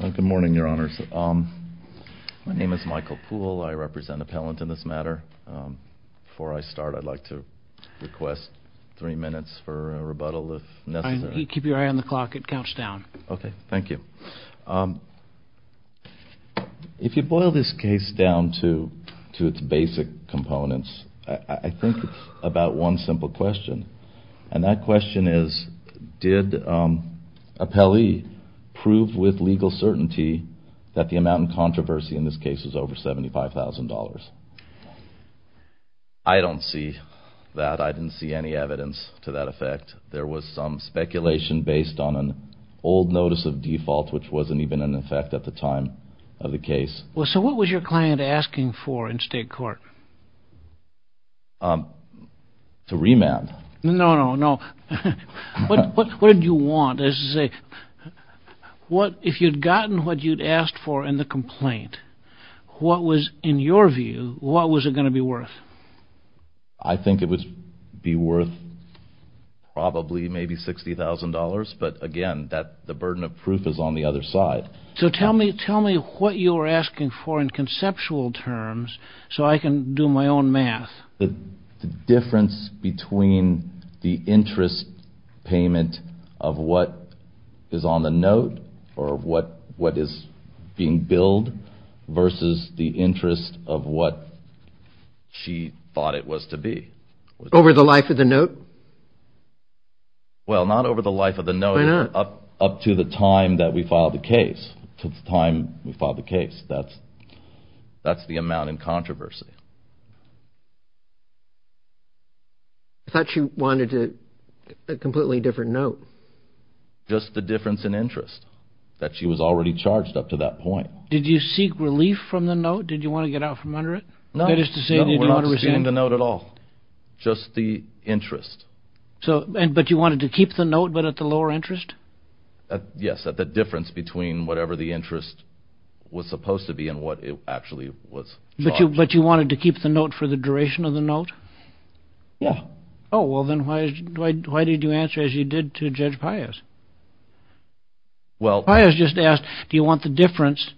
Good morning, your honors. My name is Michael Poole. I represent Appellant in this matter. Before I start, I'd like to request three minutes for a rebuttal if necessary. Keep your eye on the clock. It counts down. Okay, thank you. If you boil this case down to its basic components, I think it's about one simple question. And that question is, did Appellee prove with legal certainty that the amount in controversy in this case is over $75,000? I don't see that. I didn't see any evidence to that effect. There was some speculation based on an old notice of default, which wasn't even in effect at the time of the case. So what was your client asking for in state court? To remand. No, no, no. What did you want? If you'd gotten what you'd asked for in the complaint, what was, in your view, what was it going to be worth? I think it would be worth probably maybe $60,000, but again, the burden of proof is on the other side. So tell me what you were asking for in conceptual terms so I can do my own math. The difference between the interest payment of what is on the note or what is being billed versus the interest of what she thought it was to be. Over the life of the note? Well, not over the life of the note. Why not? Up to the time that we filed the case. That's the amount in controversy. I thought you wanted a completely different note. Just the difference in interest that she was already charged up to that point. Did you seek relief from the note? Did you want to get out from under it? No, we're not seeking the note at all. Just the interest. But you wanted to keep the note, but at the lower interest? Yes, at the difference between whatever the interest was supposed to be and what it actually was charged. But you wanted to keep the note for the duration of the note? Yeah. Oh, well then why did you answer as you did to Judge Pius? Pius just asked, do you want the difference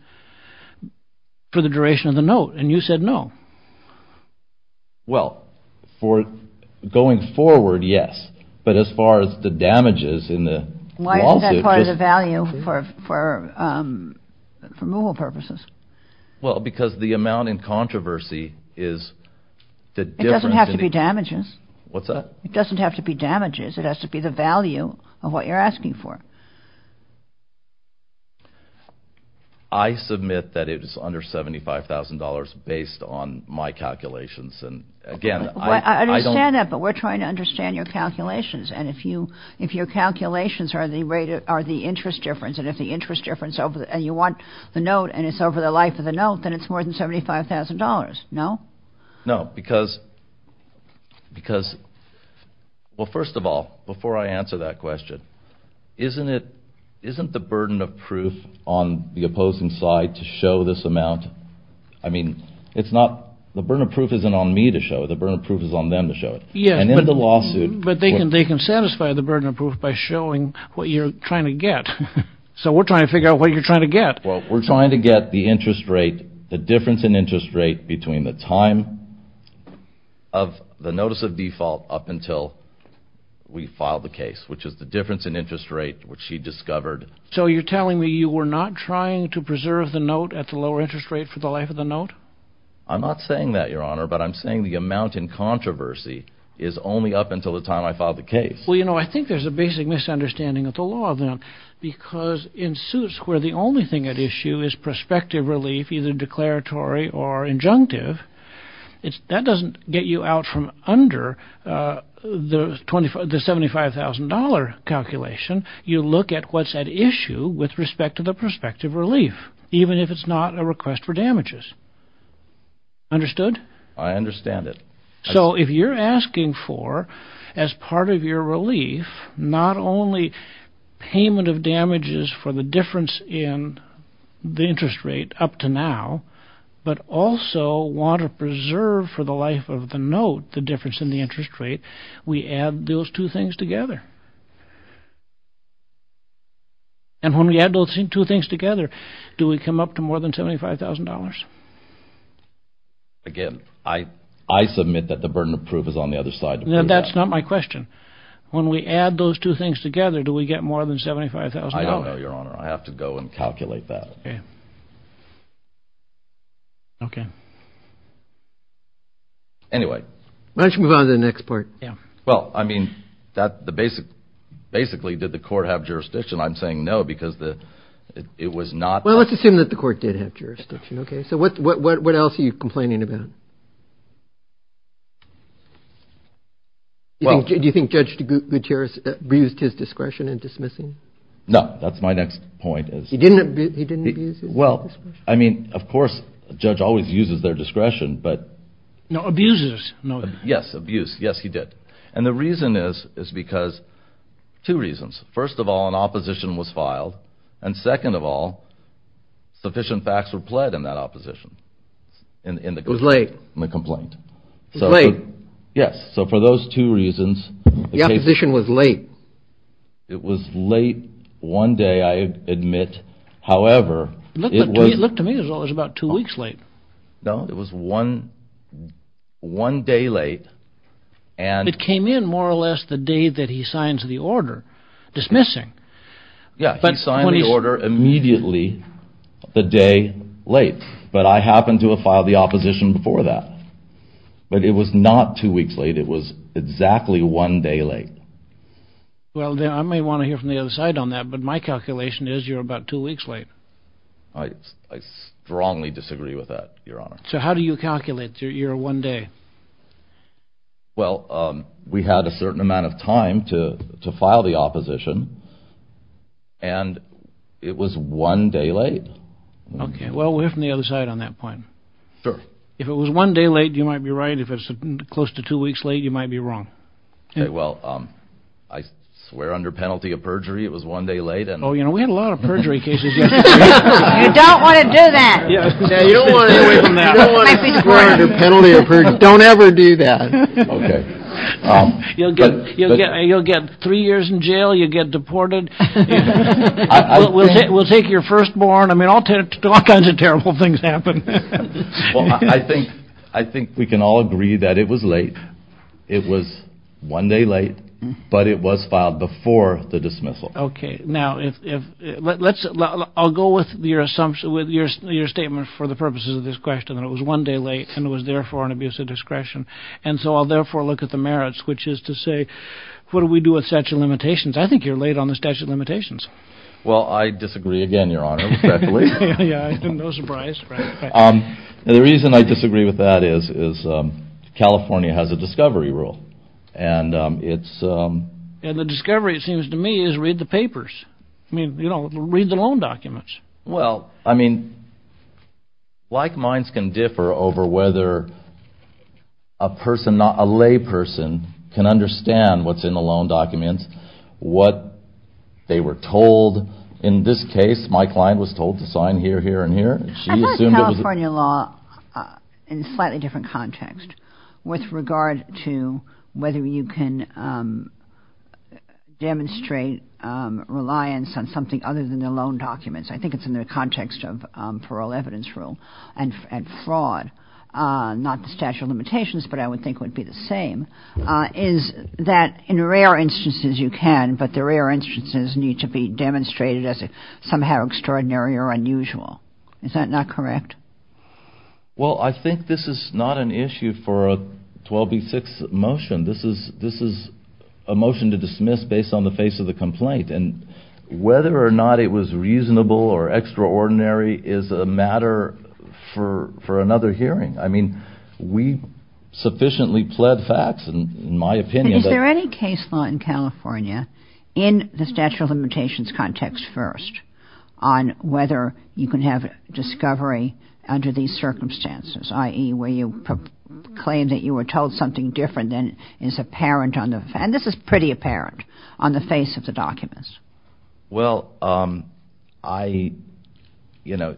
for the duration of the note? And you said no. Well, for going forward, yes. But as far as the damages in the lawsuit. Why isn't that part of the value for removal purposes? Well, because the amount in controversy is the difference. It doesn't have to be damages. What's that? It doesn't have to be damages. It has to be the value of what you're asking for. I submit that it is under $75,000 based on my calculations. I understand that, but we're trying to understand your calculations. And if your calculations are the interest difference and you want the note and it's over the life of the note, then it's more than $75,000, no? No, because, well, first of all, before I answer that question, isn't the burden of proof on the opposing side to show this amount? I mean, the burden of proof isn't on me to show it. The burden of proof is on them to show it. But they can satisfy the burden of proof by showing what you're trying to get. So we're trying to figure out what you're trying to get. Well, we're trying to get the interest rate, the difference in interest rate between the time of the notice of default up until we file the case, which is the difference in interest rate, which she discovered. So you're telling me you were not trying to preserve the note at the lower interest rate for the life of the note? I'm not saying that, Your Honor, but I'm saying the amount in controversy is only up until the time I file the case. Well, you know, I think there's a basic misunderstanding of the law, then, because in suits where the only thing at issue is prospective relief, either declaratory or injunctive, that doesn't get you out from under the $75,000 calculation. You look at what's at issue with respect to the prospective relief, even if it's not a request for damages. Understood? I understand it. So if you're asking for, as part of your relief, not only payment of damages for the difference in the interest rate up to now, but also want to preserve for the life of the note the difference in the interest rate, we add those two things together. And when we add those two things together, do we come up to more than $75,000? Again, I submit that the burden of proof is on the other side. That's not my question. When we add those two things together, do we get more than $75,000? I don't know, Your Honor. I have to go and calculate that. Okay. Okay. Anyway. Why don't you move on to the next part? Yeah. Well, I mean, basically, did the court have jurisdiction? I'm saying no, because it was not. Well, let's assume that the court did have jurisdiction. Okay. So what else are you complaining about? Do you think Judge Gutierrez abused his discretion in dismissing? No. That's my next point. He didn't abuse his discretion? Well, I mean, of course, a judge always uses their discretion. No, abuses. Yes, abuse. Yes, he did. And the reason is because two reasons. First of all, an opposition was filed. And second of all, sufficient facts were pled in that opposition. It was late. In the complaint. It was late. Yes. So for those two reasons. The opposition was late. It was late one day, I admit. However, it was. Look to me as well. It was about two weeks late. No, it was one day late. It came in more or less the day that he signed the order dismissing. Yes, he signed the order immediately the day late. But I happened to have filed the opposition before that. But it was not two weeks late. It was exactly one day late. Well, I may want to hear from the other side on that. But my calculation is you're about two weeks late. I strongly disagree with that, Your Honor. So how do you calculate your one day? Well, we had a certain amount of time to file the opposition. And it was one day late. Okay. Well, we'll hear from the other side on that point. Sure. If it was one day late, you might be right. If it was close to two weeks late, you might be wrong. Okay. Well, I swear under penalty of perjury it was one day late. Oh, you know, we had a lot of perjury cases yesterday. You don't want to do that. You don't want to swear under penalty of perjury. Don't ever do that. Okay. You'll get three years in jail. You'll get deported. We'll take your firstborn. I mean, all kinds of terrible things happen. Well, I think we can all agree that it was late. It was one day late. But it was filed before the dismissal. Okay. Now, I'll go with your statement for the purposes of this question. It was one day late and it was, therefore, an abuse of discretion. And so I'll, therefore, look at the merits, which is to say, what do we do with statute of limitations? I think you're late on the statute of limitations. Well, I disagree again, Your Honor. No surprise. The reason I disagree with that is California has a discovery rule. And the discovery, it seems to me, is read the papers. I mean, read the loan documents. Well, I mean, like minds can differ over whether a layperson can understand what's in the loan documents, what they were told. In this case, my client was told to sign here, here, and here. I look at California law in a slightly different context with regard to whether you can demonstrate reliance on something other than the loan documents. I think it's in the context of parole evidence rule and fraud, not the statute of limitations, but I would think would be the same, is that in rare instances you can, but the rare instances need to be demonstrated as somehow extraordinary or unusual. Is that not correct? Well, I think this is not an issue for a 12B6 motion. This is a motion to dismiss based on the face of the complaint. And whether or not it was reasonable or extraordinary is a matter for another hearing. I mean, we sufficiently pled facts, in my opinion. Is there any case law in California in the statute of limitations context first on whether you can have discovery under these circumstances, i.e., where you claim that you were told something different than is apparent on the, and this is pretty apparent, on the face of the documents? Well, I, you know,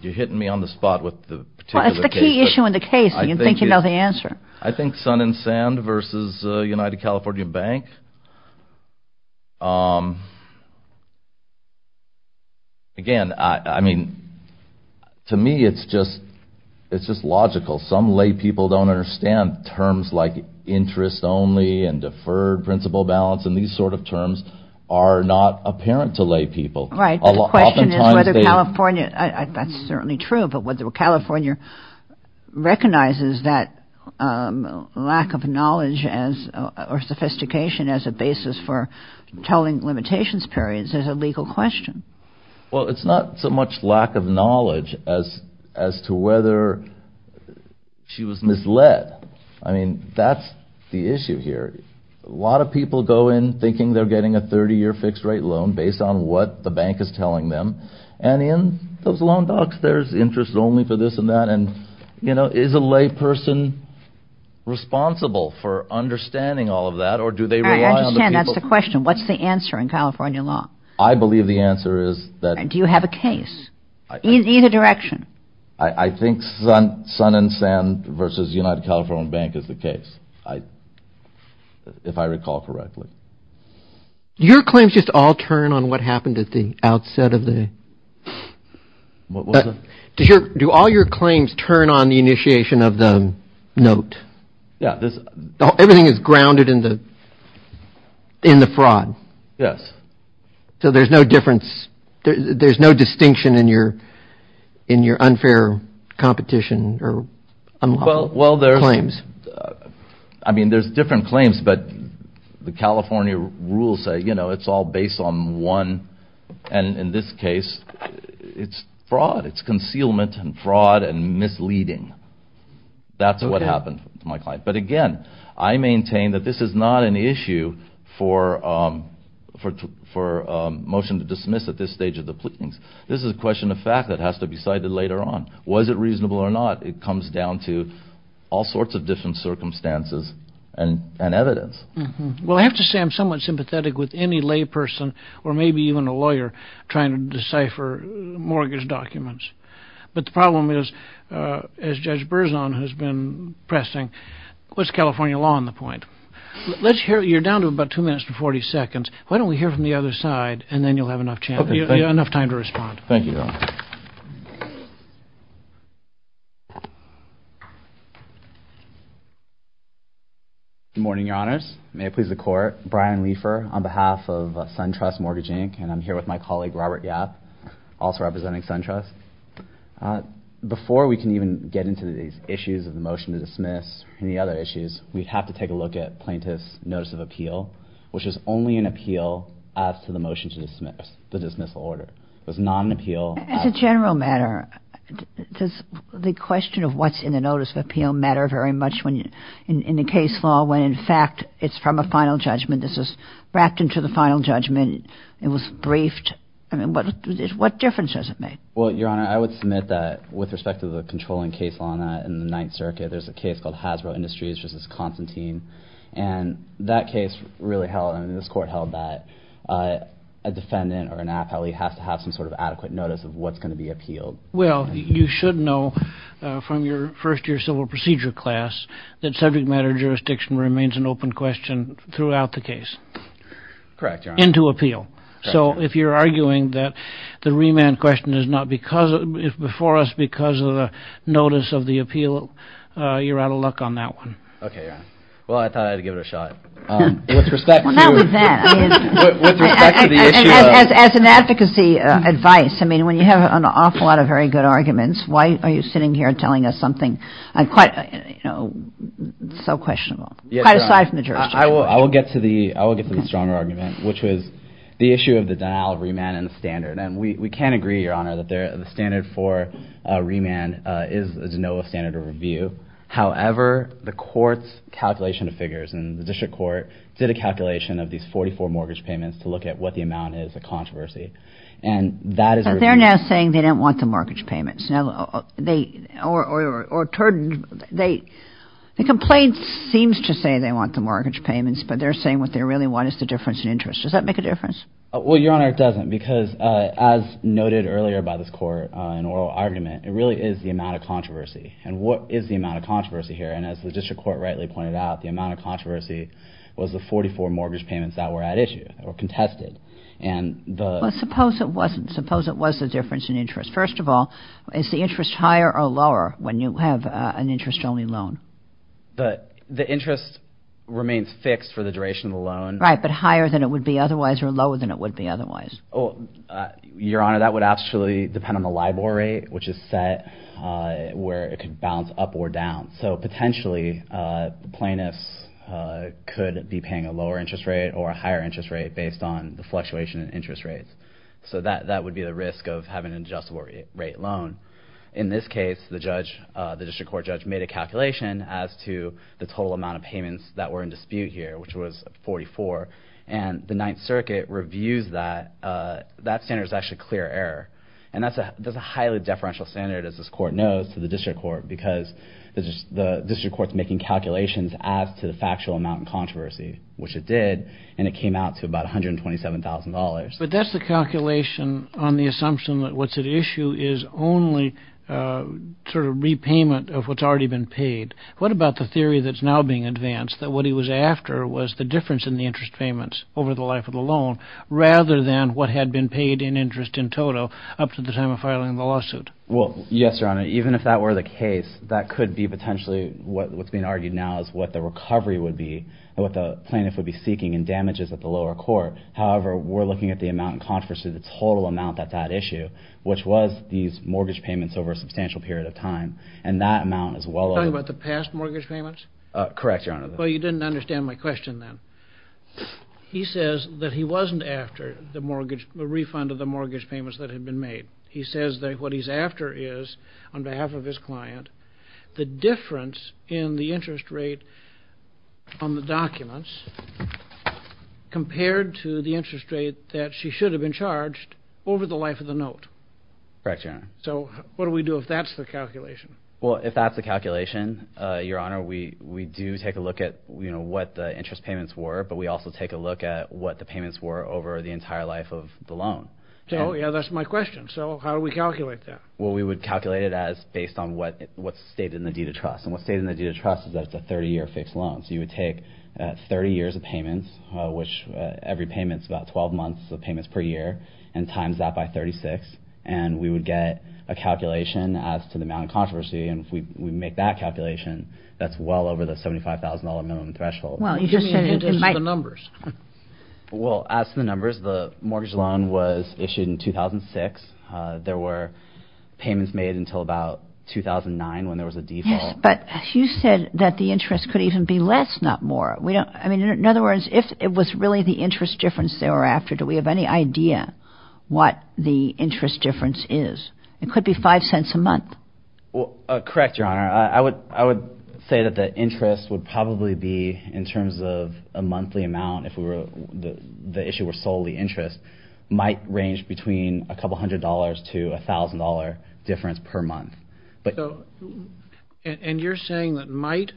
you're hitting me on the spot with the particular case. What's the issue in the case that you think you know the answer? I think Sun and Sand versus United California Bank. Again, I mean, to me it's just logical. Some lay people don't understand terms like interest only and deferred principal balance, and these sort of terms are not apparent to lay people. Right. The question is whether California, that's certainly true, but whether California recognizes that lack of knowledge as, or sophistication as a basis for telling limitations periods is a legal question. Well, it's not so much lack of knowledge as to whether she was misled. I mean, that's the issue here. A lot of people go in thinking they're getting a 30-year fixed rate loan based on what the bank is telling them, and in those loan docs there's interest only for this and that, and, you know, is a lay person responsible for understanding all of that, or do they rely on the people? I understand that's the question. What's the answer in California law? I believe the answer is that... Do you have a case? Either direction. I think Sun and Sand versus United California Bank is the case, if I recall correctly. Your claims just all turn on what happened at the outset of the... What was it? Do all your claims turn on the initiation of the note? Yeah. Everything is grounded in the fraud. Yes. So there's no difference, there's no distinction in your unfair competition or claims? Well, there's... I mean, there's different claims, but the California rules say, you know, it's all based on one, and in this case, it's fraud. It's concealment and fraud and misleading. That's what happened to my client. But again, I maintain that this is not an issue for motion to dismiss at this stage of the pleadings. This is a question of fact that has to be cited later on. Was it reasonable or not? It comes down to all sorts of different circumstances and evidence. Well, I have to say I'm somewhat sympathetic with any lay person, or maybe even a lawyer, trying to decipher mortgage documents. But the problem is, as Judge Berzon has been pressing, what's California law on the point? You're down to about two minutes and 40 seconds. Why don't we hear from the other side, and then you'll have enough time to respond. Thank you, Your Honor. Good morning, Your Honors. May it please the Court. I'm Brian Leifer on behalf of SunTrust Mortgage Inc., and I'm here with my colleague Robert Yap, also representing SunTrust. Before we can even get into these issues of the motion to dismiss and the other issues, we have to take a look at plaintiff's notice of appeal, which is only an appeal as to the motion to dismiss, the dismissal order. It was not an appeal. As a general matter, does the question of what's in the notice of appeal matter very much in the case law when, in fact, it's from a final judgment? This is wrapped into the final judgment. It was briefed. I mean, what difference does it make? Well, Your Honor, I would submit that, with respect to the controlling case law in the Ninth Circuit, there's a case called Hasbro Industries v. Constantine, and that case really held, and this Court held, that a defendant or an appellee has to have some sort of adequate notice of what's going to be appealed. Well, you should know from your first-year civil procedure class that subject matter jurisdiction remains an open question throughout the case. Correct, Your Honor. Into appeal. So if you're arguing that the remand question is before us because of the notice of the appeal, you're out of luck on that one. Okay, Your Honor. Well, I thought I'd give it a shot. With respect to the issue of – Why are you sitting here telling us something so questionable, quite aside from the jurisdiction? I will get to the stronger argument, which was the issue of the denial of remand and the standard. And we can agree, Your Honor, that the standard for remand is no standard of review. However, the Court's calculation of figures, and the District Court did a calculation of these 44 mortgage payments to look at what the amount is of controversy. And that is a review. But they're now saying they don't want the mortgage payments. Now, they – or – the complaint seems to say they want the mortgage payments, but they're saying what they really want is the difference in interest. Does that make a difference? Well, Your Honor, it doesn't, because as noted earlier by this Court in oral argument, it really is the amount of controversy. And what is the amount of controversy here? And as the District Court rightly pointed out, the amount of controversy was the 44 mortgage payments that were at issue or contested. And the – Well, suppose it wasn't. Suppose it was the difference in interest. First of all, is the interest higher or lower when you have an interest-only loan? The interest remains fixed for the duration of the loan. Right, but higher than it would be otherwise or lower than it would be otherwise? Well, Your Honor, that would actually depend on the LIBOR rate, which is set where it could bounce up or down. So potentially, plaintiffs could be paying a lower interest rate or a higher interest rate based on the fluctuation in interest rates. So that would be the risk of having an adjustable rate loan. In this case, the judge – the District Court judge made a calculation as to the total amount of payments that were in dispute here, which was 44. And the Ninth Circuit reviews that. That standard is actually clear error. And that's a highly deferential standard, as this Court knows, to the District Court because the District Court's making calculations as to the factual amount in controversy, which it did. And it came out to about $127,000. But that's the calculation on the assumption that what's at issue is only sort of repayment of what's already been paid. What about the theory that's now being advanced, that what he was after was the difference in the interest payments over the life of the loan rather than what had been paid in interest in total up to the time of filing the lawsuit? Well, yes, Your Honor. Even if that were the case, that could be potentially – what's being argued now is what the recovery would be, what the plaintiff would be seeking in damages at the lower court. However, we're looking at the amount in controversy, the total amount at that issue, which was these mortgage payments over a substantial period of time. Are you talking about the past mortgage payments? Correct, Your Honor. Well, you didn't understand my question then. He says that he wasn't after the refund of the mortgage payments that had been made. He says that what he's after is, on behalf of his client, the difference in the interest rate on the documents compared to the interest rate that she should have been charged over the life of the note. Correct, Your Honor. So what do we do if that's the calculation? Well, if that's the calculation, Your Honor, we do take a look at what the interest payments were, but we also take a look at what the payments were over the entire life of the loan. Oh, yeah, that's my question. So how do we calculate that? Well, we would calculate it as based on what's stated in the deed of trust. And what's stated in the deed of trust is that it's a 30-year fixed loan. So you would take 30 years of payments, which every payment's about 12 months of payments per year, and times that by 36. And we would get a calculation as to the amount of controversy. And if we make that calculation, that's well over the $75,000 minimum threshold. Well, you just said in light of the numbers. Well, as to the numbers, the mortgage loan was issued in 2006. There were payments made until about 2009 when there was a default. But you said that the interest could even be less, not more. I mean, in other words, if it was really the interest difference thereafter, do we have any idea what the interest difference is? It could be $0.05 a month. Correct, Your Honor. I would say that the interest would probably be, in terms of a monthly amount, if the issue were solely interest, might range between a couple hundred dollars to $1,000 difference per month. And you're saying that might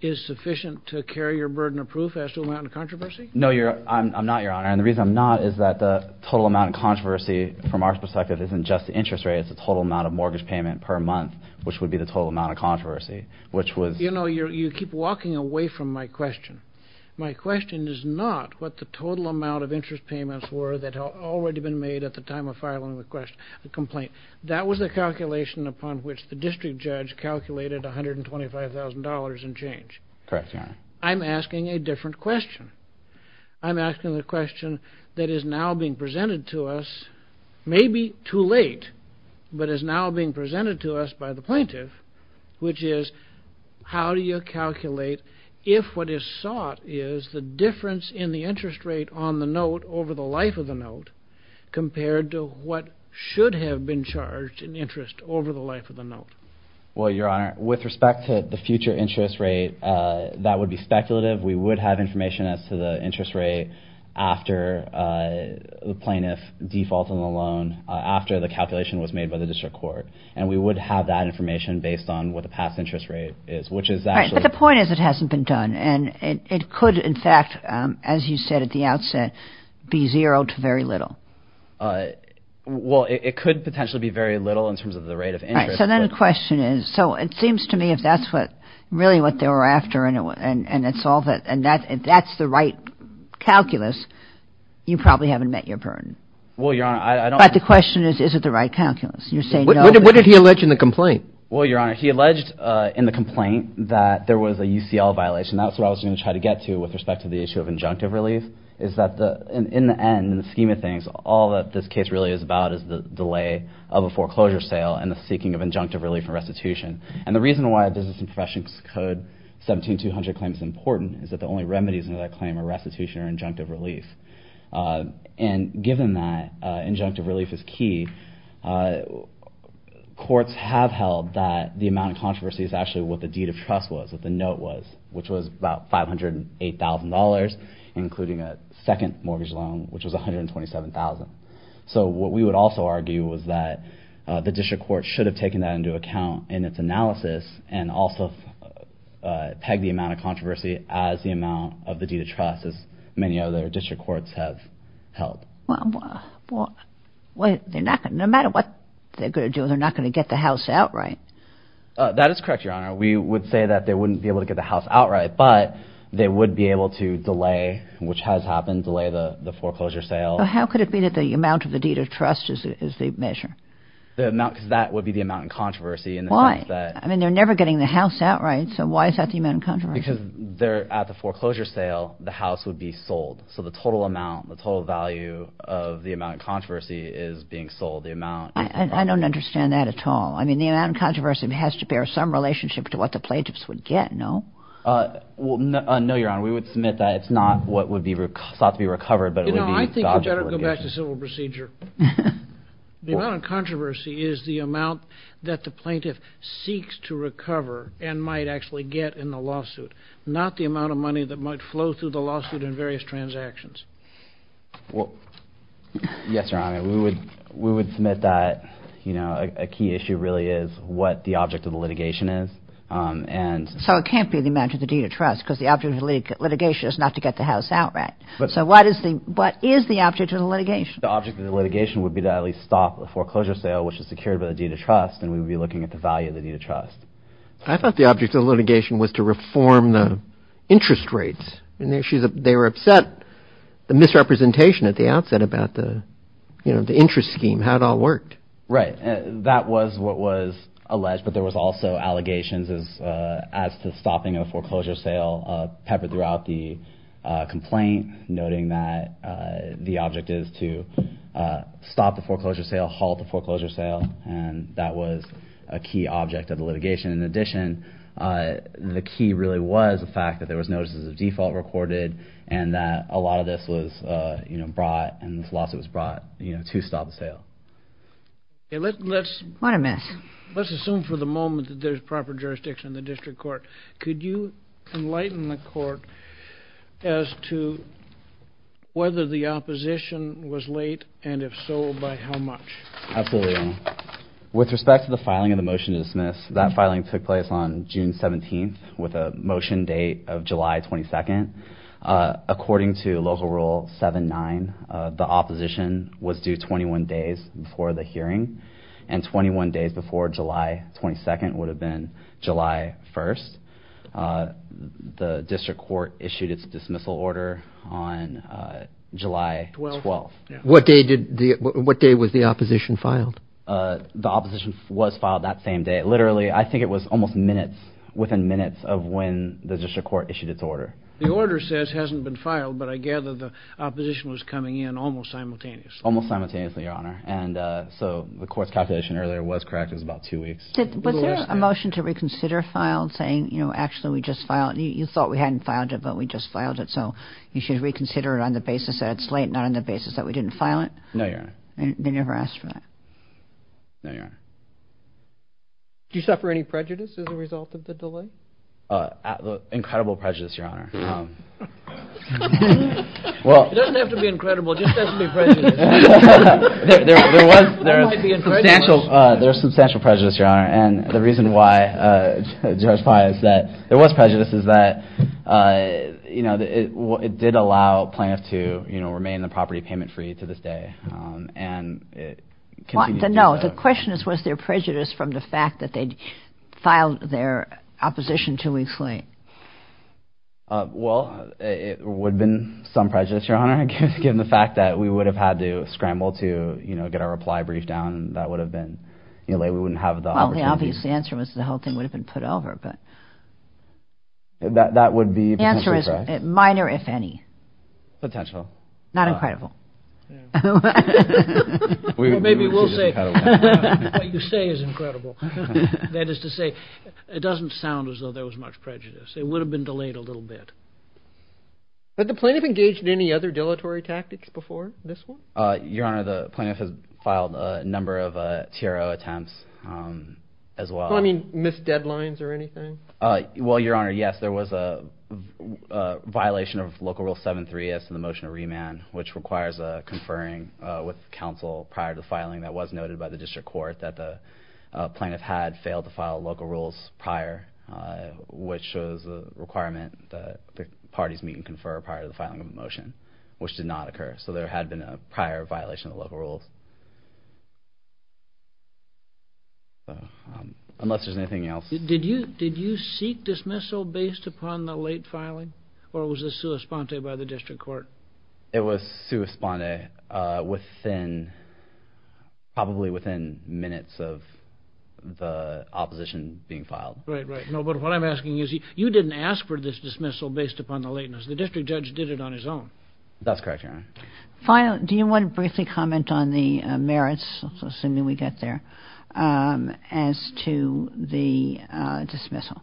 is sufficient to carry your burden of proof as to the amount of controversy? No, I'm not, Your Honor. And the reason I'm not is that the total amount of controversy, from our perspective, isn't just the interest rate. It's the total amount of mortgage payment per month, which would be the total amount of controversy. You know, you keep walking away from my question. My question is not what the total amount of interest payments were that had already been made at the time of filing the complaint. That was the calculation upon which the district judge calculated $125,000 and change. Correct, Your Honor. I'm asking a different question. I'm asking the question that is now being presented to us, maybe too late, but is now being presented to us by the plaintiff, which is how do you calculate if what is sought is the difference in the interest rate on the note over the life of the note compared to what should have been charged in interest over the life of the note? Well, Your Honor, with respect to the future interest rate, that would be speculative. We would have information as to the interest rate after the plaintiff defaulted on the loan, after the calculation was made by the district court. And we would have that information based on what the past interest rate is, which is actually. But the point is it hasn't been done. And it could, in fact, as you said at the outset, be zero to very little. Well, it could potentially be very little in terms of the rate of interest. So then the question is, so it seems to me if that's what really what they were after and it's all that, and that's the right calculus, you probably haven't met your burden. Well, Your Honor, I don't. But the question is, is it the right calculus? You're saying no. What did he allege in the complaint? Well, Your Honor, he alleged in the complaint that there was a UCL violation. That's what I was going to try to get to with respect to the issue of injunctive relief, is that in the end, in the scheme of things, all that this case really is about is the delay of a foreclosure sale and the seeking of injunctive relief and restitution. And the reason why Business and Professions Code 17-200 claim is important is that the only remedies under that claim are restitution or injunctive relief. And given that injunctive relief is key, courts have held that the amount of controversy is actually what the deed of trust was, what the note was, which was about $508,000, including a second mortgage loan, which was $127,000. So what we would also argue was that the district court should have taken that into account in its analysis and also pegged the amount of controversy as the amount of the deed of trust, as many other district courts have held. Well, no matter what they're going to do, they're not going to get the house outright. That is correct, Your Honor. We would say that they wouldn't be able to get the house outright, but they would be able to delay, which has happened, delay the foreclosure sale. How could it be that the amount of the deed of trust is the measure? Because that would be the amount in controversy. Why? I mean, they're never getting the house outright, so why is that the amount of controversy? Because at the foreclosure sale, the house would be sold. So the total amount, the total value of the amount of controversy is being sold. I don't understand that at all. I mean, the amount of controversy has to bear some relationship to what the plaintiffs would get, no? No, Your Honor. We would submit that it's not what would be sought to be recovered, but it would be valuable. You know, I think we'd better go back to civil procedure. The amount of controversy is the amount that the plaintiff seeks to recover and might actually get in the lawsuit, not the amount of money that might flow through the lawsuit in various transactions. Yes, Your Honor. We would submit that, you know, a key issue really is what the object of the litigation is. So it can't be the amount of the deed of trust because the object of the litigation is not to get the house outright. So what is the object of the litigation? The object of the litigation would be to at least stop a foreclosure sale, which is secured by the deed of trust, and we would be looking at the value of the deed of trust. I thought the object of the litigation was to reform the interest rates. They were upset, the misrepresentation at the outset about the interest scheme, how it all worked. Right. That was what was alleged, but there was also allegations as to stopping a foreclosure sale peppered throughout the complaint, noting that the object is to stop the foreclosure sale, halt the foreclosure sale, and that was a key object of the litigation. In addition, the key really was the fact that there was notices of default recorded and that a lot of this was brought, and this lawsuit was brought to stop the sale. What a mess. Let's assume for the moment that there's proper jurisdiction in the district court. Could you enlighten the court as to whether the opposition was late, and if so, by how much? Absolutely, Your Honor. With respect to the filing of the motion to dismiss, that filing took place on June 17th with a motion date of July 22nd. According to Local Rule 7-9, the opposition was due 21 days before the hearing, and 21 days before July 22nd would have been July 1st. The district court issued its dismissal order on July 12th. What day was the opposition filed? The opposition was filed that same day. Literally, I think it was almost minutes, within minutes of when the district court issued its order. The order says hasn't been filed, but I gather the opposition was coming in almost simultaneously. Almost simultaneously, Your Honor. So the court's calculation earlier was correct. It was about two weeks. Was there a motion to reconsider filed saying, you know, actually we just filed it? You thought we hadn't filed it, but we just filed it, so you should reconsider it on the basis that it's late, not on the basis that we didn't file it? No, Your Honor. They never asked for that? No, Your Honor. Did you suffer any prejudice as a result of the delay? Incredible prejudice, Your Honor. It doesn't have to be incredible, it just doesn't have to be prejudice. There was substantial prejudice, Your Honor, and the reason why Judge Pius said there was prejudice is that, you know, it did allow plaintiffs to remain in the property payment-free to this day. No, the question is, was there prejudice from the fact that they'd filed their opposition two weeks late? Well, it would have been some prejudice, Your Honor, given the fact that we would have had to scramble to, you know, get our reply briefed down, and that would have been, you know, we wouldn't have the opportunity. Well, the obvious answer was the whole thing would have been put over, but... That would be potentially correct? The answer is minor, if any. Potential. Not incredible. Well, maybe we'll say what you say is incredible. That is to say, it doesn't sound as though there was much prejudice. It would have been delayed a little bit. Had the plaintiff engaged in any other dilatory tactics before this one? Your Honor, the plaintiff has filed a number of TRO attempts as well. I mean, missed deadlines or anything? Well, Your Honor, yes, there was a violation of Local Rule 7-3 as to the motion of remand, which requires a conferring with counsel prior to filing that was noted by the district court that the plaintiff had failed to file local rules prior, which was a requirement that the parties meet and confer prior to the filing of a motion, which did not occur. So there had been a prior violation of local rules. Unless there's anything else. Did you seek dismissal based upon the late filing, or was this sua sponte by the district court? It was sua sponte, probably within minutes of the opposition being filed. Right, right. No, but what I'm asking is, you didn't ask for this dismissal based upon the lateness. The district judge did it on his own. That's correct, Your Honor. Finally, do you want to briefly comment on the merits, assuming we get there, as to the dismissal?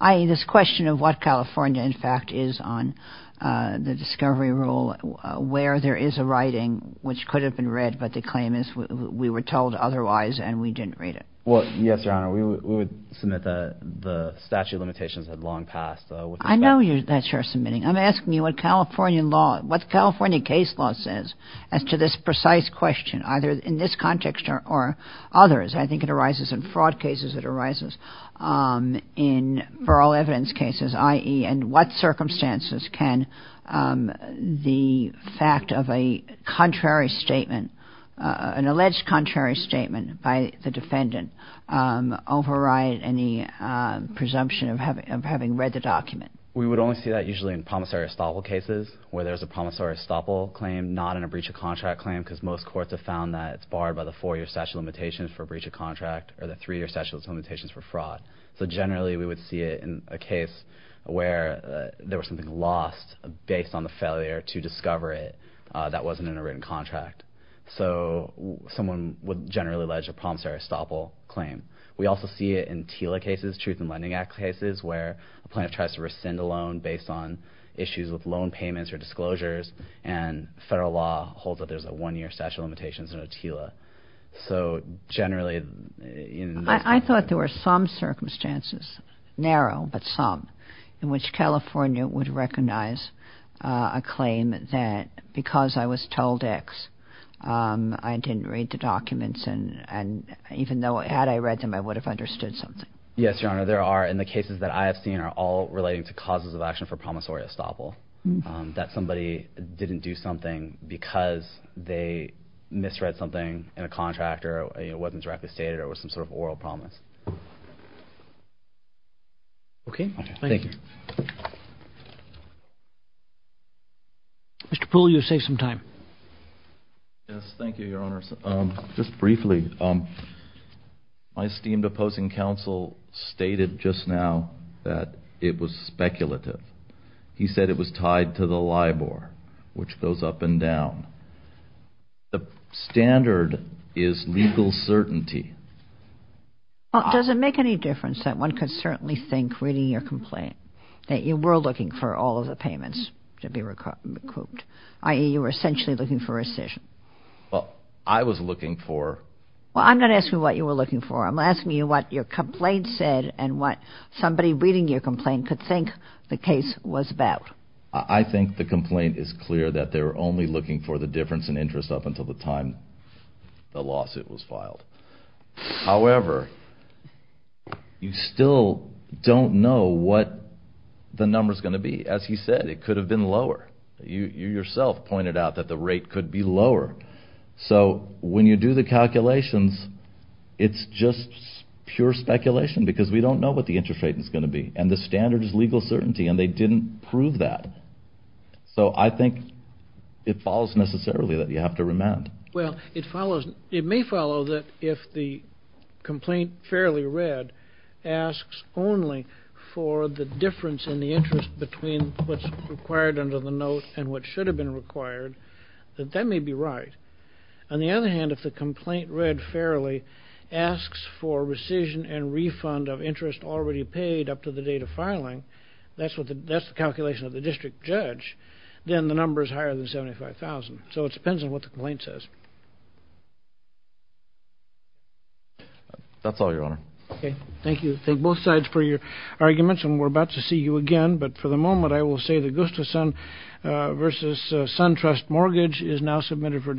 I mean, this question of what California, in fact, is on the discovery rule, where there is a writing which could have been read, but the claim is we were told otherwise and we didn't read it. Well, yes, Your Honor, we would submit that the statute of limitations had long passed. I know that's your submitting. I'm asking you what California law, what California case law says as to this precise question, either in this context or others. I think it arises in fraud cases. It arises in oral evidence cases, i.e., in what circumstances can the fact of a contrary statement, an alleged contrary statement by the defendant, override any presumption of having read the document? We would only see that usually in promissory estoppel cases, where there's a promissory estoppel claim, not in a breach of contract claim, because most courts have found that it's barred by the four-year statute of limitations for breach of contract or the three-year statute of limitations for fraud. So generally, we would see it in a case where there was something lost based on the failure to discover it that wasn't in a written contract. So someone would generally allege a promissory estoppel claim. We also see it in TILA cases, Truth in Lending Act cases, where a plaintiff tries to rescind a loan based on issues with loan payments or disclosures, and federal law holds that there's a one-year statute of limitations in a TILA. So generally, in those cases... I thought there were some circumstances, narrow, but some, in which California would recognize a claim that because I was told X, I didn't read the documents, and even had I read them, I would have understood something. Yes, Your Honor. There are, in the cases that I have seen, are all relating to causes of action for promissory estoppel. That somebody didn't do something because they misread something in a contract or it wasn't directly stated or it was some sort of oral promise. Okay. Thank you. Mr. Poole, you have saved some time. Yes, thank you, Your Honors. Just briefly, my esteemed opposing counsel stated just now that it was speculative. He said it was tied to the LIBOR, which goes up and down. The standard is legal certainty. Well, does it make any difference that one could certainly think, reading your complaint, that you were looking for all of the payments to be recouped, i.e., you were essentially looking for rescission? Well, I was looking for... Well, I'm not asking what you were looking for. I'm asking you what your complaint said and what somebody reading your complaint could think the case was about. I think the complaint is clear that they were only looking for the difference in interest up until the time the lawsuit was filed. However, you still don't know what the number's going to be. As he said, it could have been lower. You yourself pointed out that the rate could be lower. So when you do the calculations, it's just pure speculation because we don't know what the interest rate is going to be. And the standard is legal certainty, and they didn't prove that. So I think it follows, necessarily, that you have to remand. Well, it may follow that if the complaint, fairly read, asks only for the difference in the interest between what's required under the note and what should have been required, that that may be right. On the other hand, if the complaint, read fairly, asks for rescission and refund of interest already paid up to the date of filing, that's the calculation of the district judge, then the number is higher than $75,000. So it depends on what the complaint says. That's all, Your Honor. Okay. Thank you. Thank both sides for your arguments, and we're about to see you again. But for the moment, I will say the Gustafson versus SunTrust mortgage is now submitted for discussion.